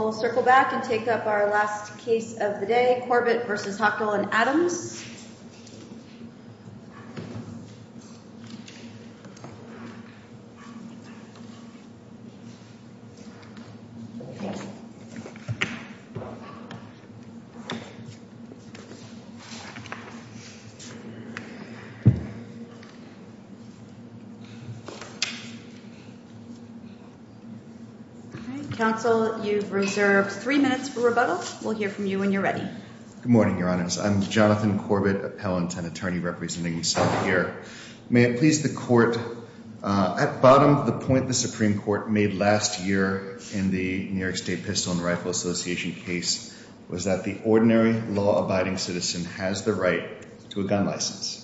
We'll circle back and take up our last case of the day, Corbett v. Hochul and Adams. All right, counsel, you've reserved three minutes for rebuttal. We'll hear from you when you're ready. Good morning, Your Honors. I'm Jonathan Corbett, appellant and attorney representing myself here. May it please the Court, at bottom of the point the Supreme Court made last year in the New York State Pistol and Rifle Association case was that the ordinary law-abiding citizen has the right to a gun license.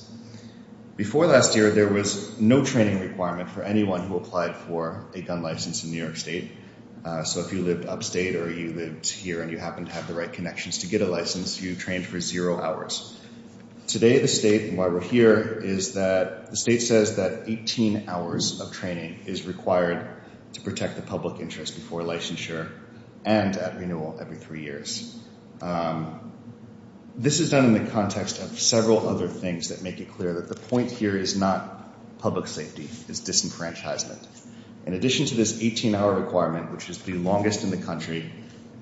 Before last year, there was no training requirement for anyone who applied for a gun license in New York State. So if you lived upstate or you lived here and you happened to have the right connections to get a license, you trained for zero hours. Today, the state, while we're here, is that the state says that 18 hours of training is required to protect the public interest before licensure and at renewal every three years. This is done in the context of several other things that make it clear that the point here is not public safety. It's disenfranchisement. In addition to this 18-hour requirement, which is the longest in the country,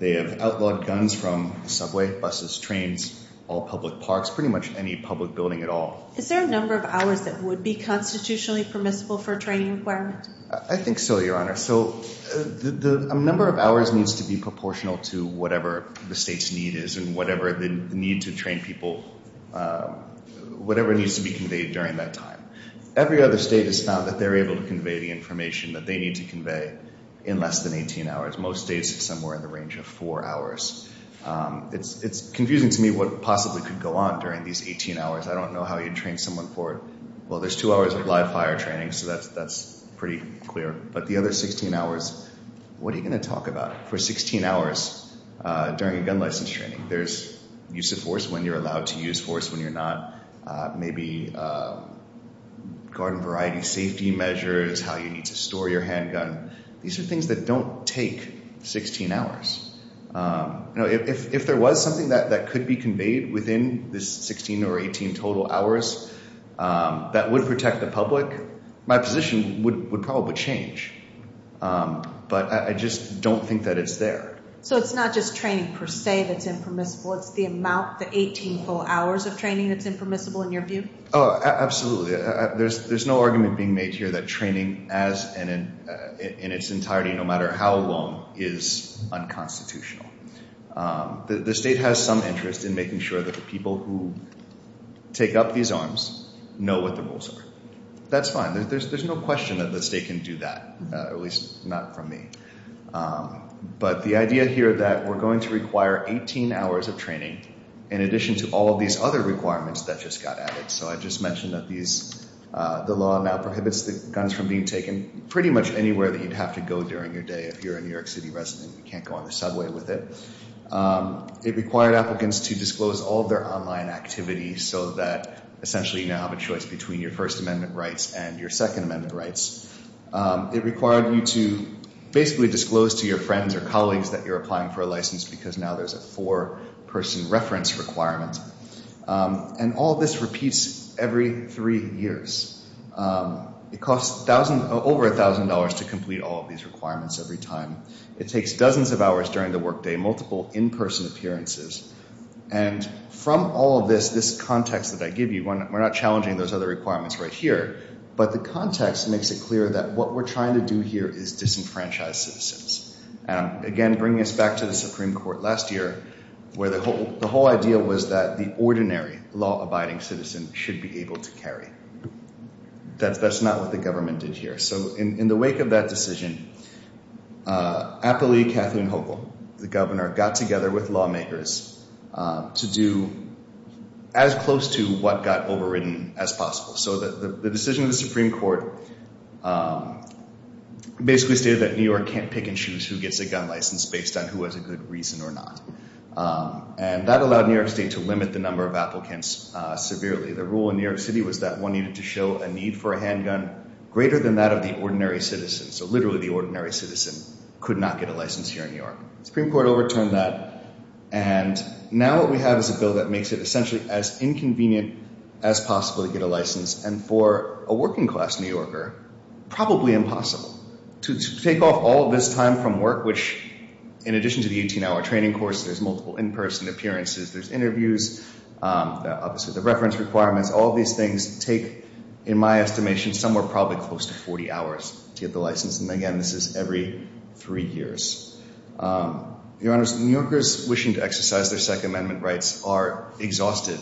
they have outlawed guns from subway, buses, trains, all public parks, pretty much any public building at all. Is there a number of hours that would be constitutionally permissible for a training requirement? I think so, Your Honor. So a number of hours needs to be proportional to whatever the state's need is and whatever the need to train people, whatever needs to be conveyed during that time. Every other state has found that they're able to convey the information that they need to convey in less than 18 hours. Most states have somewhere in the range of four hours. It's confusing to me what possibly could go on during these 18 hours. I don't know how you'd train someone for it. Well, there's two hours of live fire training, so that's pretty clear. But the other 16 hours, what are you going to talk about for 16 hours during a gun license training? There's use of force when you're allowed to use force when you're not. Maybe garden variety safety measures, how you need to store your handgun. These are things that don't take 16 hours. If there was something that could be conveyed within this 16 or 18 total hours that would protect the public, my position would probably change. But I just don't think that it's there. So it's not just training per se that's impermissible. It's the amount, the 18 full hours of training that's impermissible in your view? Absolutely. There's no argument being made here that training in its entirety, no matter how long, is unconstitutional. The state has some interest in making sure that the people who take up these arms know what the rules are. That's fine. There's no question that the state can do that, at least not from me. But the idea here that we're going to require 18 hours of training in addition to all of these other requirements that just got added. So I just mentioned that the law now prohibits the guns from being taken pretty much anywhere that you'd have to go during your day if you're a New York City resident. You can't go on the subway with it. It required applicants to disclose all of their online activities so that essentially you now have a choice between your First Amendment rights and your Second Amendment rights. It required you to basically disclose to your friends or colleagues that you're applying for a license because now there's a four-person reference requirement. And all of this repeats every three years. It costs over $1,000 to complete all of these requirements every time. It takes dozens of hours during the workday, multiple in-person appearances. And from all of this, this context that I give you, we're not challenging those other requirements right here. But the context makes it clear that what we're trying to do here is disenfranchise citizens. And again, bringing us back to the Supreme Court last year where the whole idea was that the ordinary law-abiding citizen should be able to carry. That's not what the government did here. So in the wake of that decision, Applee Kathleen Hochul, the governor, got together with lawmakers to do as close to what got overridden as possible. So the decision of the Supreme Court basically stated that New York can't pick and choose who gets a gun license based on who has a good reason or not. And that allowed New York State to limit the number of applicants severely. The rule in New York City was that one needed to show a need for a handgun greater than that of the ordinary citizen. So literally, the ordinary citizen could not get a license here in New York. The Supreme Court overturned that. And now what we have is a bill that makes it essentially as inconvenient as possible to get a license. And for a working-class New Yorker, probably impossible. To take off all of this time from work, which in addition to the 18-hour training course, there's multiple in-person appearances. There's interviews. Obviously, the reference requirements. All these things take, in my estimation, somewhere probably close to 40 hours to get the license. And again, this is every three years. Your Honors, New Yorkers wishing to exercise their Second Amendment rights are exhausted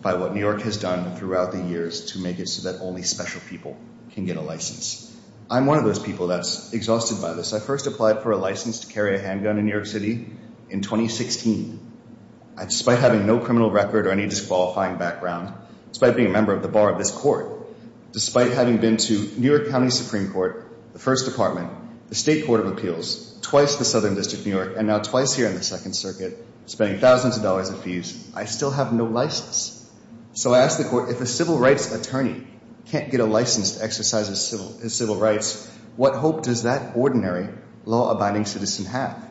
by what New York has done throughout the years to make it so that only special people can get a license. I'm one of those people that's exhausted by this. I first applied for a license to carry a handgun in New York City in 2016. Despite having no criminal record or any disqualifying background, despite being a member of the bar of this court, despite having been to New York County Supreme Court, the First Department, the State Court of Appeals, twice the Southern District of New York, and now twice here in the Second Circuit, spending thousands of dollars in fees, I still have no license. So I asked the court, if a civil rights attorney can't get a license to exercise his civil rights, what hope does that ordinary law-abiding citizen have?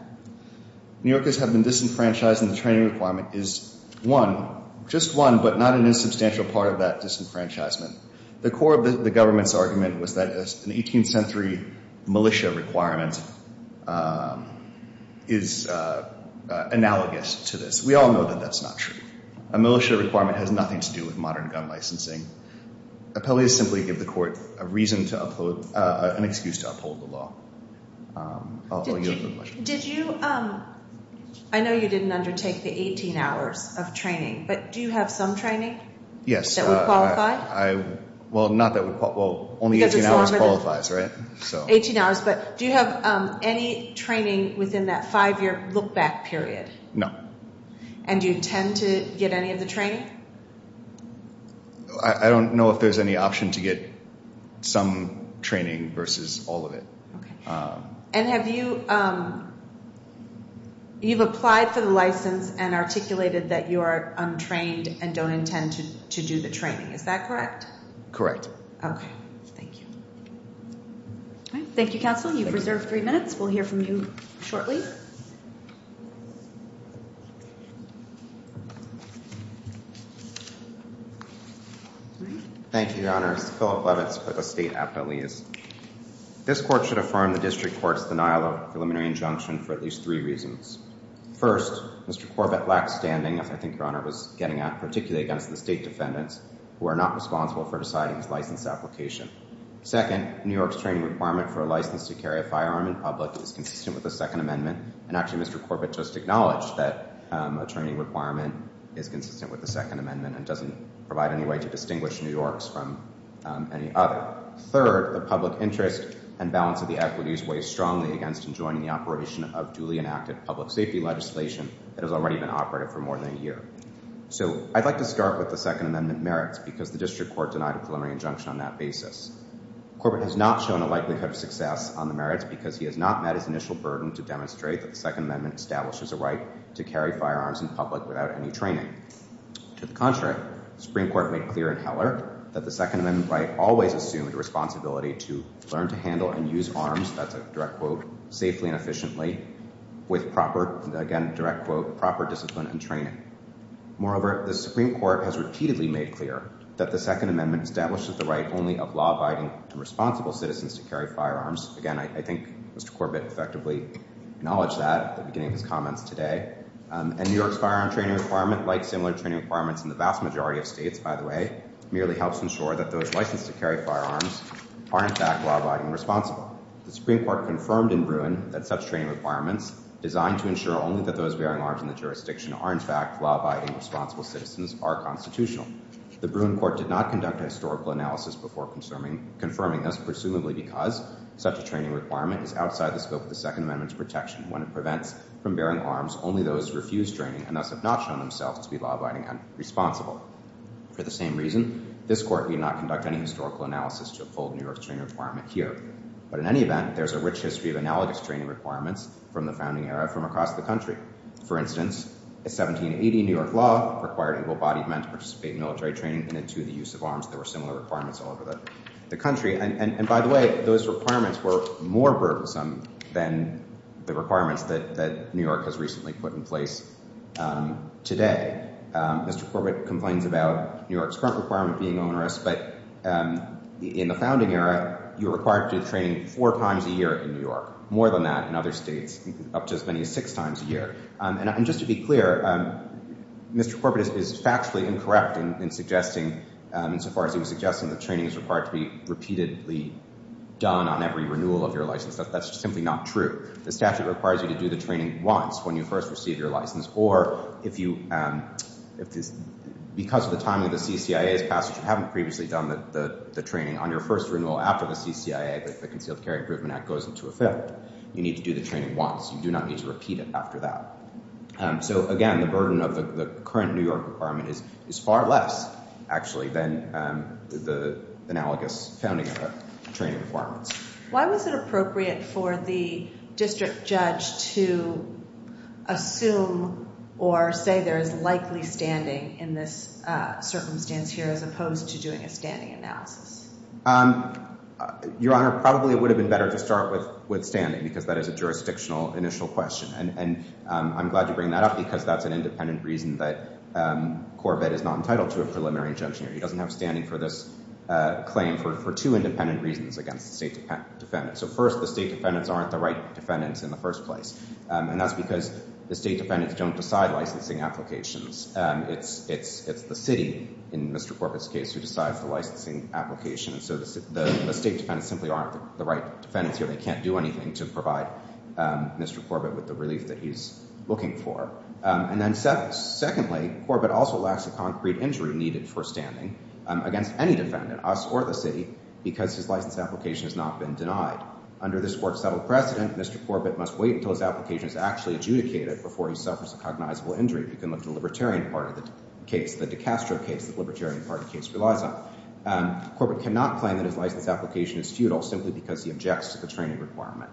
New Yorkers have been disenfranchised, and the training requirement is one, just one, but not an insubstantial part of that disenfranchisement. The core of the government's argument was that an 18th century militia requirement is analogous to this. We all know that that's not true. A militia requirement has nothing to do with modern gun licensing. Appellees simply give the court a reason to uphold, an excuse to uphold the law. Did you, I know you didn't undertake the 18 hours of training, but do you have some training? That would qualify? Well, not that would, well, only 18 hours qualifies, right? 18 hours, but do you have any training within that five-year look-back period? No. And do you intend to get any of the training? I don't know if there's any option to get some training versus all of it. Okay. And have you, you've applied for the license and articulated that you are untrained and don't intend to do the training. Is that correct? Correct. Okay. Thank you. Thank you, counsel. You've reserved three minutes. We'll hear from you shortly. Thank you, Your Honor. This is Philip Levitz with the State Appellees. This court should affirm the district court's denial of preliminary injunction for at least three reasons. First, Mr. Corbett lacked standing, as I think Your Honor was getting at, particularly against the state defendants, who are not responsible for deciding his license application. Second, New York's training requirement for a license to carry a firearm in public is consistent with the Second Amendment, and actually Mr. Corbett just acknowledged that a training requirement is consistent with the Second Amendment and doesn't provide any way to distinguish New York's from any other. Third, the public interest and balance of the equities weighs strongly against enjoining the operation of duly enacted public safety legislation that has already been operative for more than a year. So I'd like to start with the Second Amendment merits because the district court denied a preliminary injunction on that basis. Corbett has not shown a likelihood of success on the merits because he has not met his initial burden to demonstrate that the Second Amendment establishes a right to carry firearms in public without any training. To the contrary, the Supreme Court made clear in Heller that the Second Amendment right always assumed a responsibility to learn to handle and use arms, that's a direct quote, safely and efficiently with proper, again a direct quote, proper discipline and training. Moreover, the Supreme Court has repeatedly made clear that the Second Amendment establishes the right only of law-abiding to responsible citizens to carry firearms. Again, I think Mr. Corbett effectively acknowledged that at the beginning of his comments today. And New York's firearm training requirement, like similar training requirements in the vast majority of states, by the way, merely helps ensure that those licensed to carry firearms are in fact law-abiding and responsible. The Supreme Court confirmed in Bruin that such training requirements, designed to ensure only that those bearing arms in the jurisdiction are in fact law-abiding, responsible citizens, are constitutional. The Bruin Court did not conduct a historical analysis before confirming this, presumably because such a training requirement is outside the scope of the Second Amendment's protection. When it prevents from bearing arms, only those who refuse training and thus have not shown themselves to be law-abiding and responsible. For the same reason, this Court did not conduct any historical analysis to uphold New York's training requirement here. But in any event, there's a rich history of analogous training requirements from the founding era from across the country. For instance, in 1780, New York law required able-bodied men to participate in military training and to the use of arms. There were similar requirements all over the country. And by the way, those requirements were more verbose than the requirements that New York has recently put in place today. Mr. Corbett complains about New York's current requirement being onerous, but in the founding era, you were required to do training four times a year in New York. More than that in other states, up to as many as six times a year. And just to be clear, Mr. Corbett is factually incorrect in suggesting, insofar as he was suggesting that training is required to be repeatedly done on every renewal of your license. That's simply not true. The statute requires you to do the training once when you first receive your license. Or if you – because of the timing of the CCIA's passage, you haven't previously done the training on your first renewal after the CCIA, but the Concealed Carry Improvement Act goes into effect. You need to do the training once. You do not need to repeat it after that. So, again, the burden of the current New York requirement is far less, actually, than the analogous founding training requirements. Why was it appropriate for the district judge to assume or say there is likely standing in this circumstance here as opposed to doing a standing analysis? Your Honor, probably it would have been better to start with standing because that is a jurisdictional initial question. And I'm glad you bring that up because that's an independent reason that Corbett is not entitled to a preliminary injunction. He doesn't have standing for this claim for two independent reasons against the state defendants. So, first, the state defendants aren't the right defendants in the first place. And that's because the state defendants don't decide licensing applications. It's the city, in Mr. Corbett's case, who decides the licensing application. So the state defendants simply aren't the right defendants here. They can't do anything to provide Mr. Corbett with the relief that he's looking for. And then secondly, Corbett also lacks a concrete injury needed for standing against any defendant, us or the city, because his license application has not been denied. Under this court's settled precedent, Mr. Corbett must wait until his application is actually adjudicated before he suffers a cognizable injury. We can look to the libertarian part of the case, the DiCastro case, the libertarian part of the case relies on. Corbett cannot claim that his license application is futile simply because he objects to the training requirement.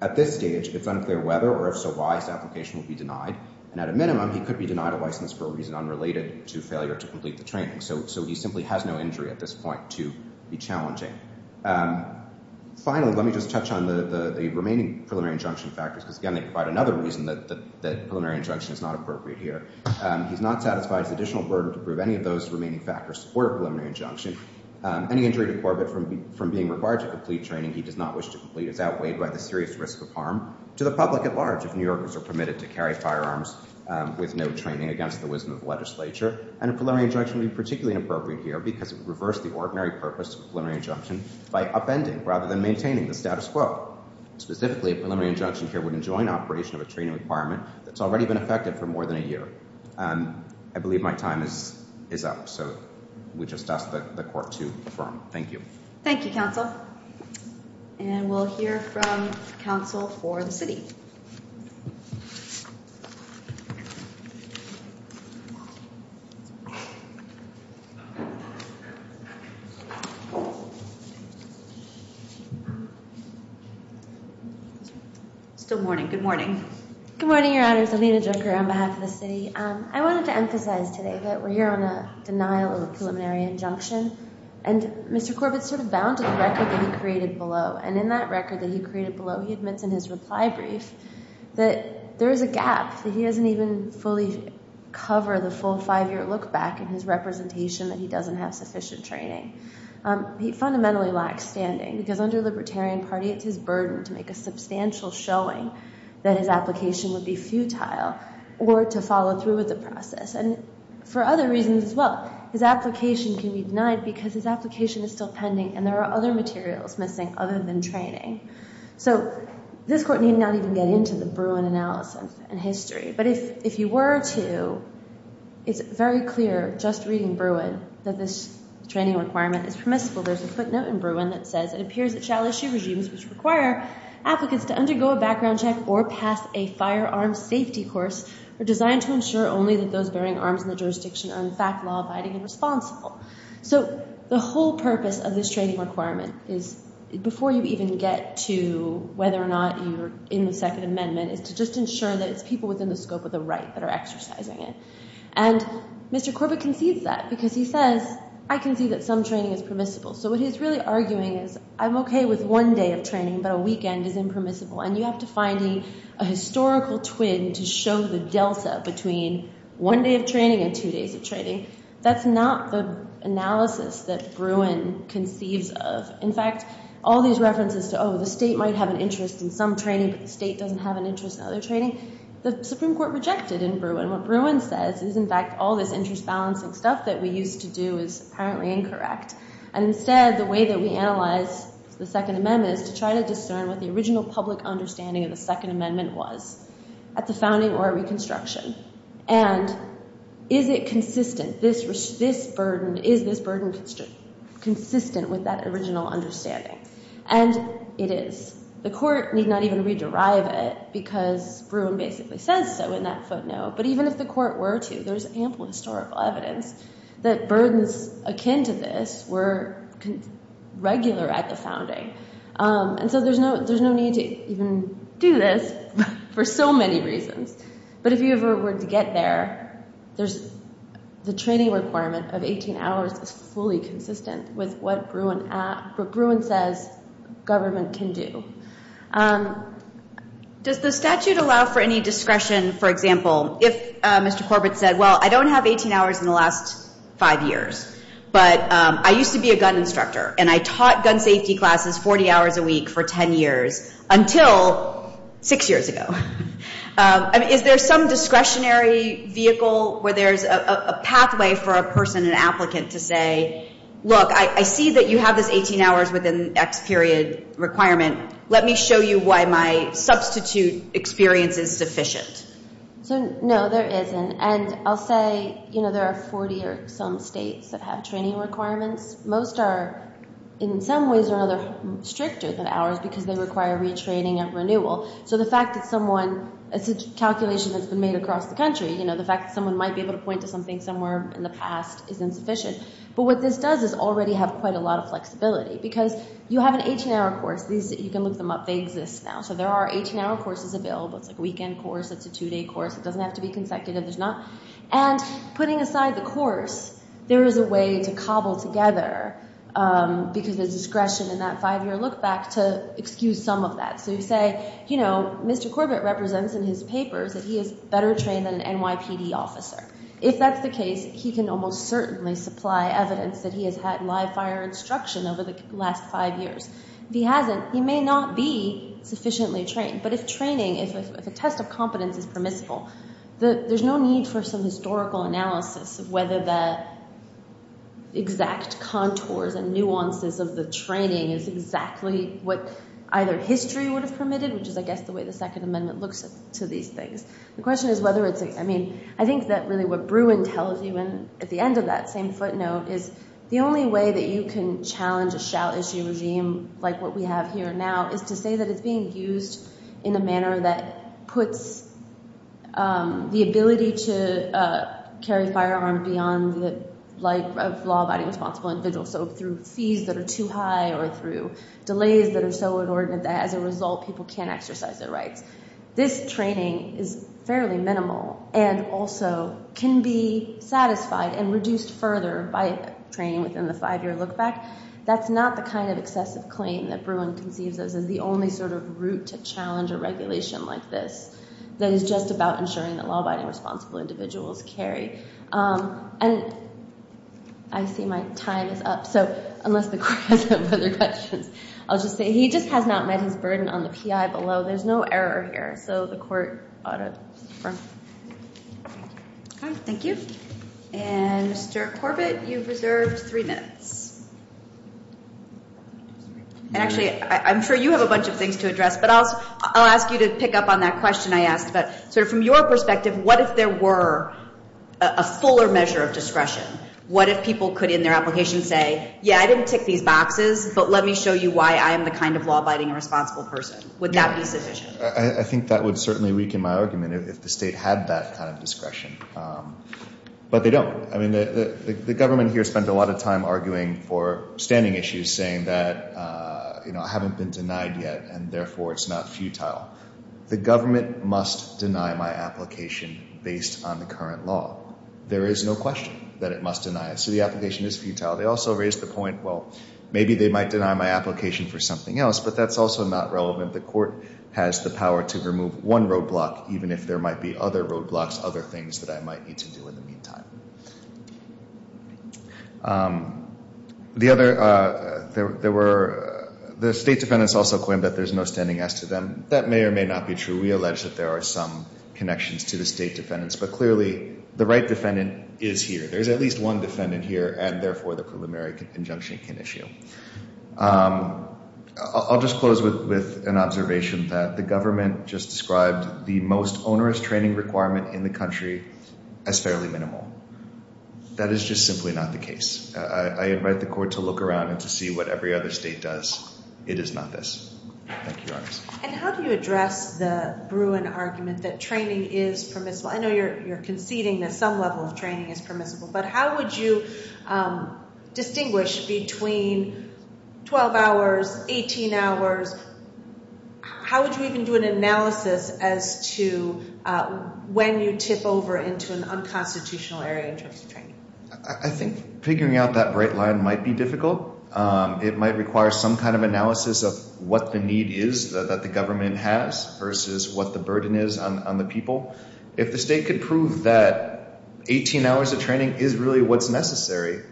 At this stage, it's unclear whether or if so why his application will be denied. And at a minimum, he could be denied a license for a reason unrelated to failure to complete the training. So he simply has no injury at this point to be challenging. Finally, let me just touch on the remaining preliminary injunction factors, because, again, they provide another reason that preliminary injunction is not appropriate here. He's not satisfied his additional burden to prove any of those remaining factors support a preliminary injunction. Any injury to Corbett from being required to complete training he does not wish to complete is outweighed by the serious risk of harm to the public at large if New Yorkers are permitted to carry firearms with no training against the wisdom of the legislature. And a preliminary injunction would be particularly inappropriate here because it would reverse the ordinary purpose of a preliminary injunction by upending rather than maintaining the status quo. Specifically, a preliminary injunction here would enjoin operation of a training requirement that's already been effective for more than a year. I believe my time is up. So we just ask that the court to confirm. Thank you. Thank you, counsel. And we'll hear from counsel for the city. Still morning. Good morning. Good morning, Your Honors. Alina Junker on behalf of the city. I wanted to emphasize today that we're here on a denial of a preliminary injunction. And Mr. Corbett is sort of bound to the record that he created below. And in that record that he created below, he admits in his reply brief that there is a gap, that he doesn't even fully cover the full five-year look back in his representation, that he doesn't have sufficient training. He fundamentally lacks standing because under libertarian party, it's his burden to make a substantial showing that his application would be futile or to follow through with the process. And for other reasons as well, his application can be denied because his application is still pending and there are other materials missing other than training. So this court need not even get into the Bruin analysis and history. But if you were to, it's very clear just reading Bruin that this training requirement is permissible. There's a footnote in Bruin that says, So the whole purpose of this training requirement is, before you even get to whether or not you're in the Second Amendment, is to just ensure that it's people within the scope of the right that are exercising it. And Mr. Corbett concedes that because he says, I can see that some training is permissible. So what he's really arguing is, I'm OK with one day of training, but a weekend is impermissible. And you have to find a historical twin to show the delta between one day of training and two days of training. That's not the analysis that Bruin conceives of. In fact, all these references to, oh, the state might have an interest in some training, but the state doesn't have an interest in other training, the Supreme Court rejected in Bruin. And what Bruin says is, in fact, all this interest-balancing stuff that we used to do is apparently incorrect. And instead, the way that we analyze the Second Amendment is to try to discern what the original public understanding of the Second Amendment was at the founding or at Reconstruction. And is it consistent? Is this burden consistent with that original understanding? And it is. The court need not even rederive it because Bruin basically says so in that footnote. But even if the court were to, there's ample historical evidence that burdens akin to this were regular at the founding. And so there's no need to even do this for so many reasons. But if you ever were to get there, the training requirement of 18 hours is fully consistent with what Bruin says government can do. Does the statute allow for any discretion, for example, if Mr. Corbett said, well, I don't have 18 hours in the last five years. But I used to be a gun instructor, and I taught gun safety classes 40 hours a week for 10 years until six years ago. Is there some discretionary vehicle where there's a pathway for a person, an applicant to say, look, I see that you have this 18 hours within X period requirement. Let me show you why my substitute experience is sufficient. So, no, there isn't. And I'll say, you know, there are 40 or some states that have training requirements. Most are in some ways or another stricter than ours because they require retraining and renewal. So the fact that someone, it's a calculation that's been made across the country. You know, the fact that someone might be able to point to something somewhere in the past is insufficient. But what this does is already have quite a lot of flexibility because you have an 18-hour course. You can look them up. They exist now. So there are 18-hour courses available. It's like a weekend course. It's a two-day course. It doesn't have to be consecutive. There's not. And putting aside the course, there is a way to cobble together because there's discretion in that five-year look back to excuse some of that. So you say, you know, Mr. Corbett represents in his papers that he is better trained than an NYPD officer. If that's the case, he can almost certainly supply evidence that he has had live fire instruction over the last five years. If he hasn't, he may not be sufficiently trained. But if training, if a test of competence is permissible, there's no need for some historical analysis of whether the exact contours and nuances of the training is exactly what either history would have permitted, which is, I guess, the way the Second Amendment looks to these things. The question is whether it's, I mean, I think that really what Bruin tells you at the end of that same footnote is the only way that you can challenge a shell issue regime like what we have here now is to say that it's being used in a manner that puts the ability to carry a firearm beyond the life of law-abiding responsible individuals. So through fees that are too high or through delays that are so inordinate that as a result, people can't exercise their rights. This training is fairly minimal and also can be satisfied and reduced further by training within the five-year look-back. That's not the kind of excessive claim that Bruin conceives of as the only sort of route to challenge a regulation like this that is just about ensuring that law-abiding responsible individuals carry. And I see my time is up. So unless the court has other questions, I'll just say he just has not met his burden on the PI below. There's no error here. So the court ought to defer. Thank you. And Mr. Corbett, you've reserved three minutes. And actually, I'm sure you have a bunch of things to address, but I'll ask you to pick up on that question I asked about sort of from your perspective, what if there were a fuller measure of discretion? What if people could, in their application, say, yeah, I didn't tick these boxes, but let me show you why I am the kind of law-abiding responsible person? Would that be sufficient? I think that would certainly weaken my argument if the state had that kind of discretion. But they don't. I mean, the government here spent a lot of time arguing for standing issues, saying that, you know, I haven't been denied yet, and therefore it's not futile. The government must deny my application based on the current law. There is no question that it must deny it. So the application is futile. They also raised the point, well, maybe they might deny my application for something else, but that's also not relevant. The court has the power to remove one roadblock, even if there might be other roadblocks, other things that I might need to do in the meantime. The state defendants also claimed that there's no standing as to them. That may or may not be true. We allege that there are some connections to the state defendants. But clearly, the right defendant is here. There's at least one defendant here, and therefore the preliminary injunction can issue. I'll just close with an observation that the government just described the most onerous training requirement in the country as fairly minimal. That is just simply not the case. I invite the court to look around and to see what every other state does. It is not this. Thank you, Your Honors. And how do you address the Bruin argument that training is permissible? I know you're conceding that some level of training is permissible, but how would you distinguish between 12 hours, 18 hours? How would you even do an analysis as to when you tip over into an unconstitutional area in terms of training? I think figuring out that bright line might be difficult. It might require some kind of analysis of what the need is that the government has versus what the burden is on the people. If the state could prove that 18 hours of training is really what's necessary,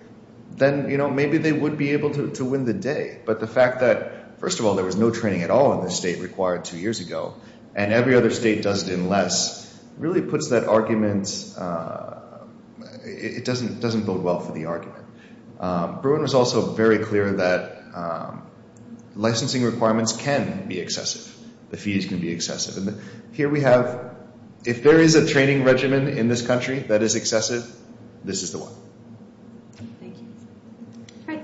then maybe they would be able to win the day. But the fact that, first of all, there was no training at all in this state required two years ago, and every other state does it in less, really puts that argument—it doesn't bode well for the argument. Bruin was also very clear that licensing requirements can be excessive. The fees can be excessive. And here we have—if there is a training regimen in this country that is excessive, this is the one. Thank you.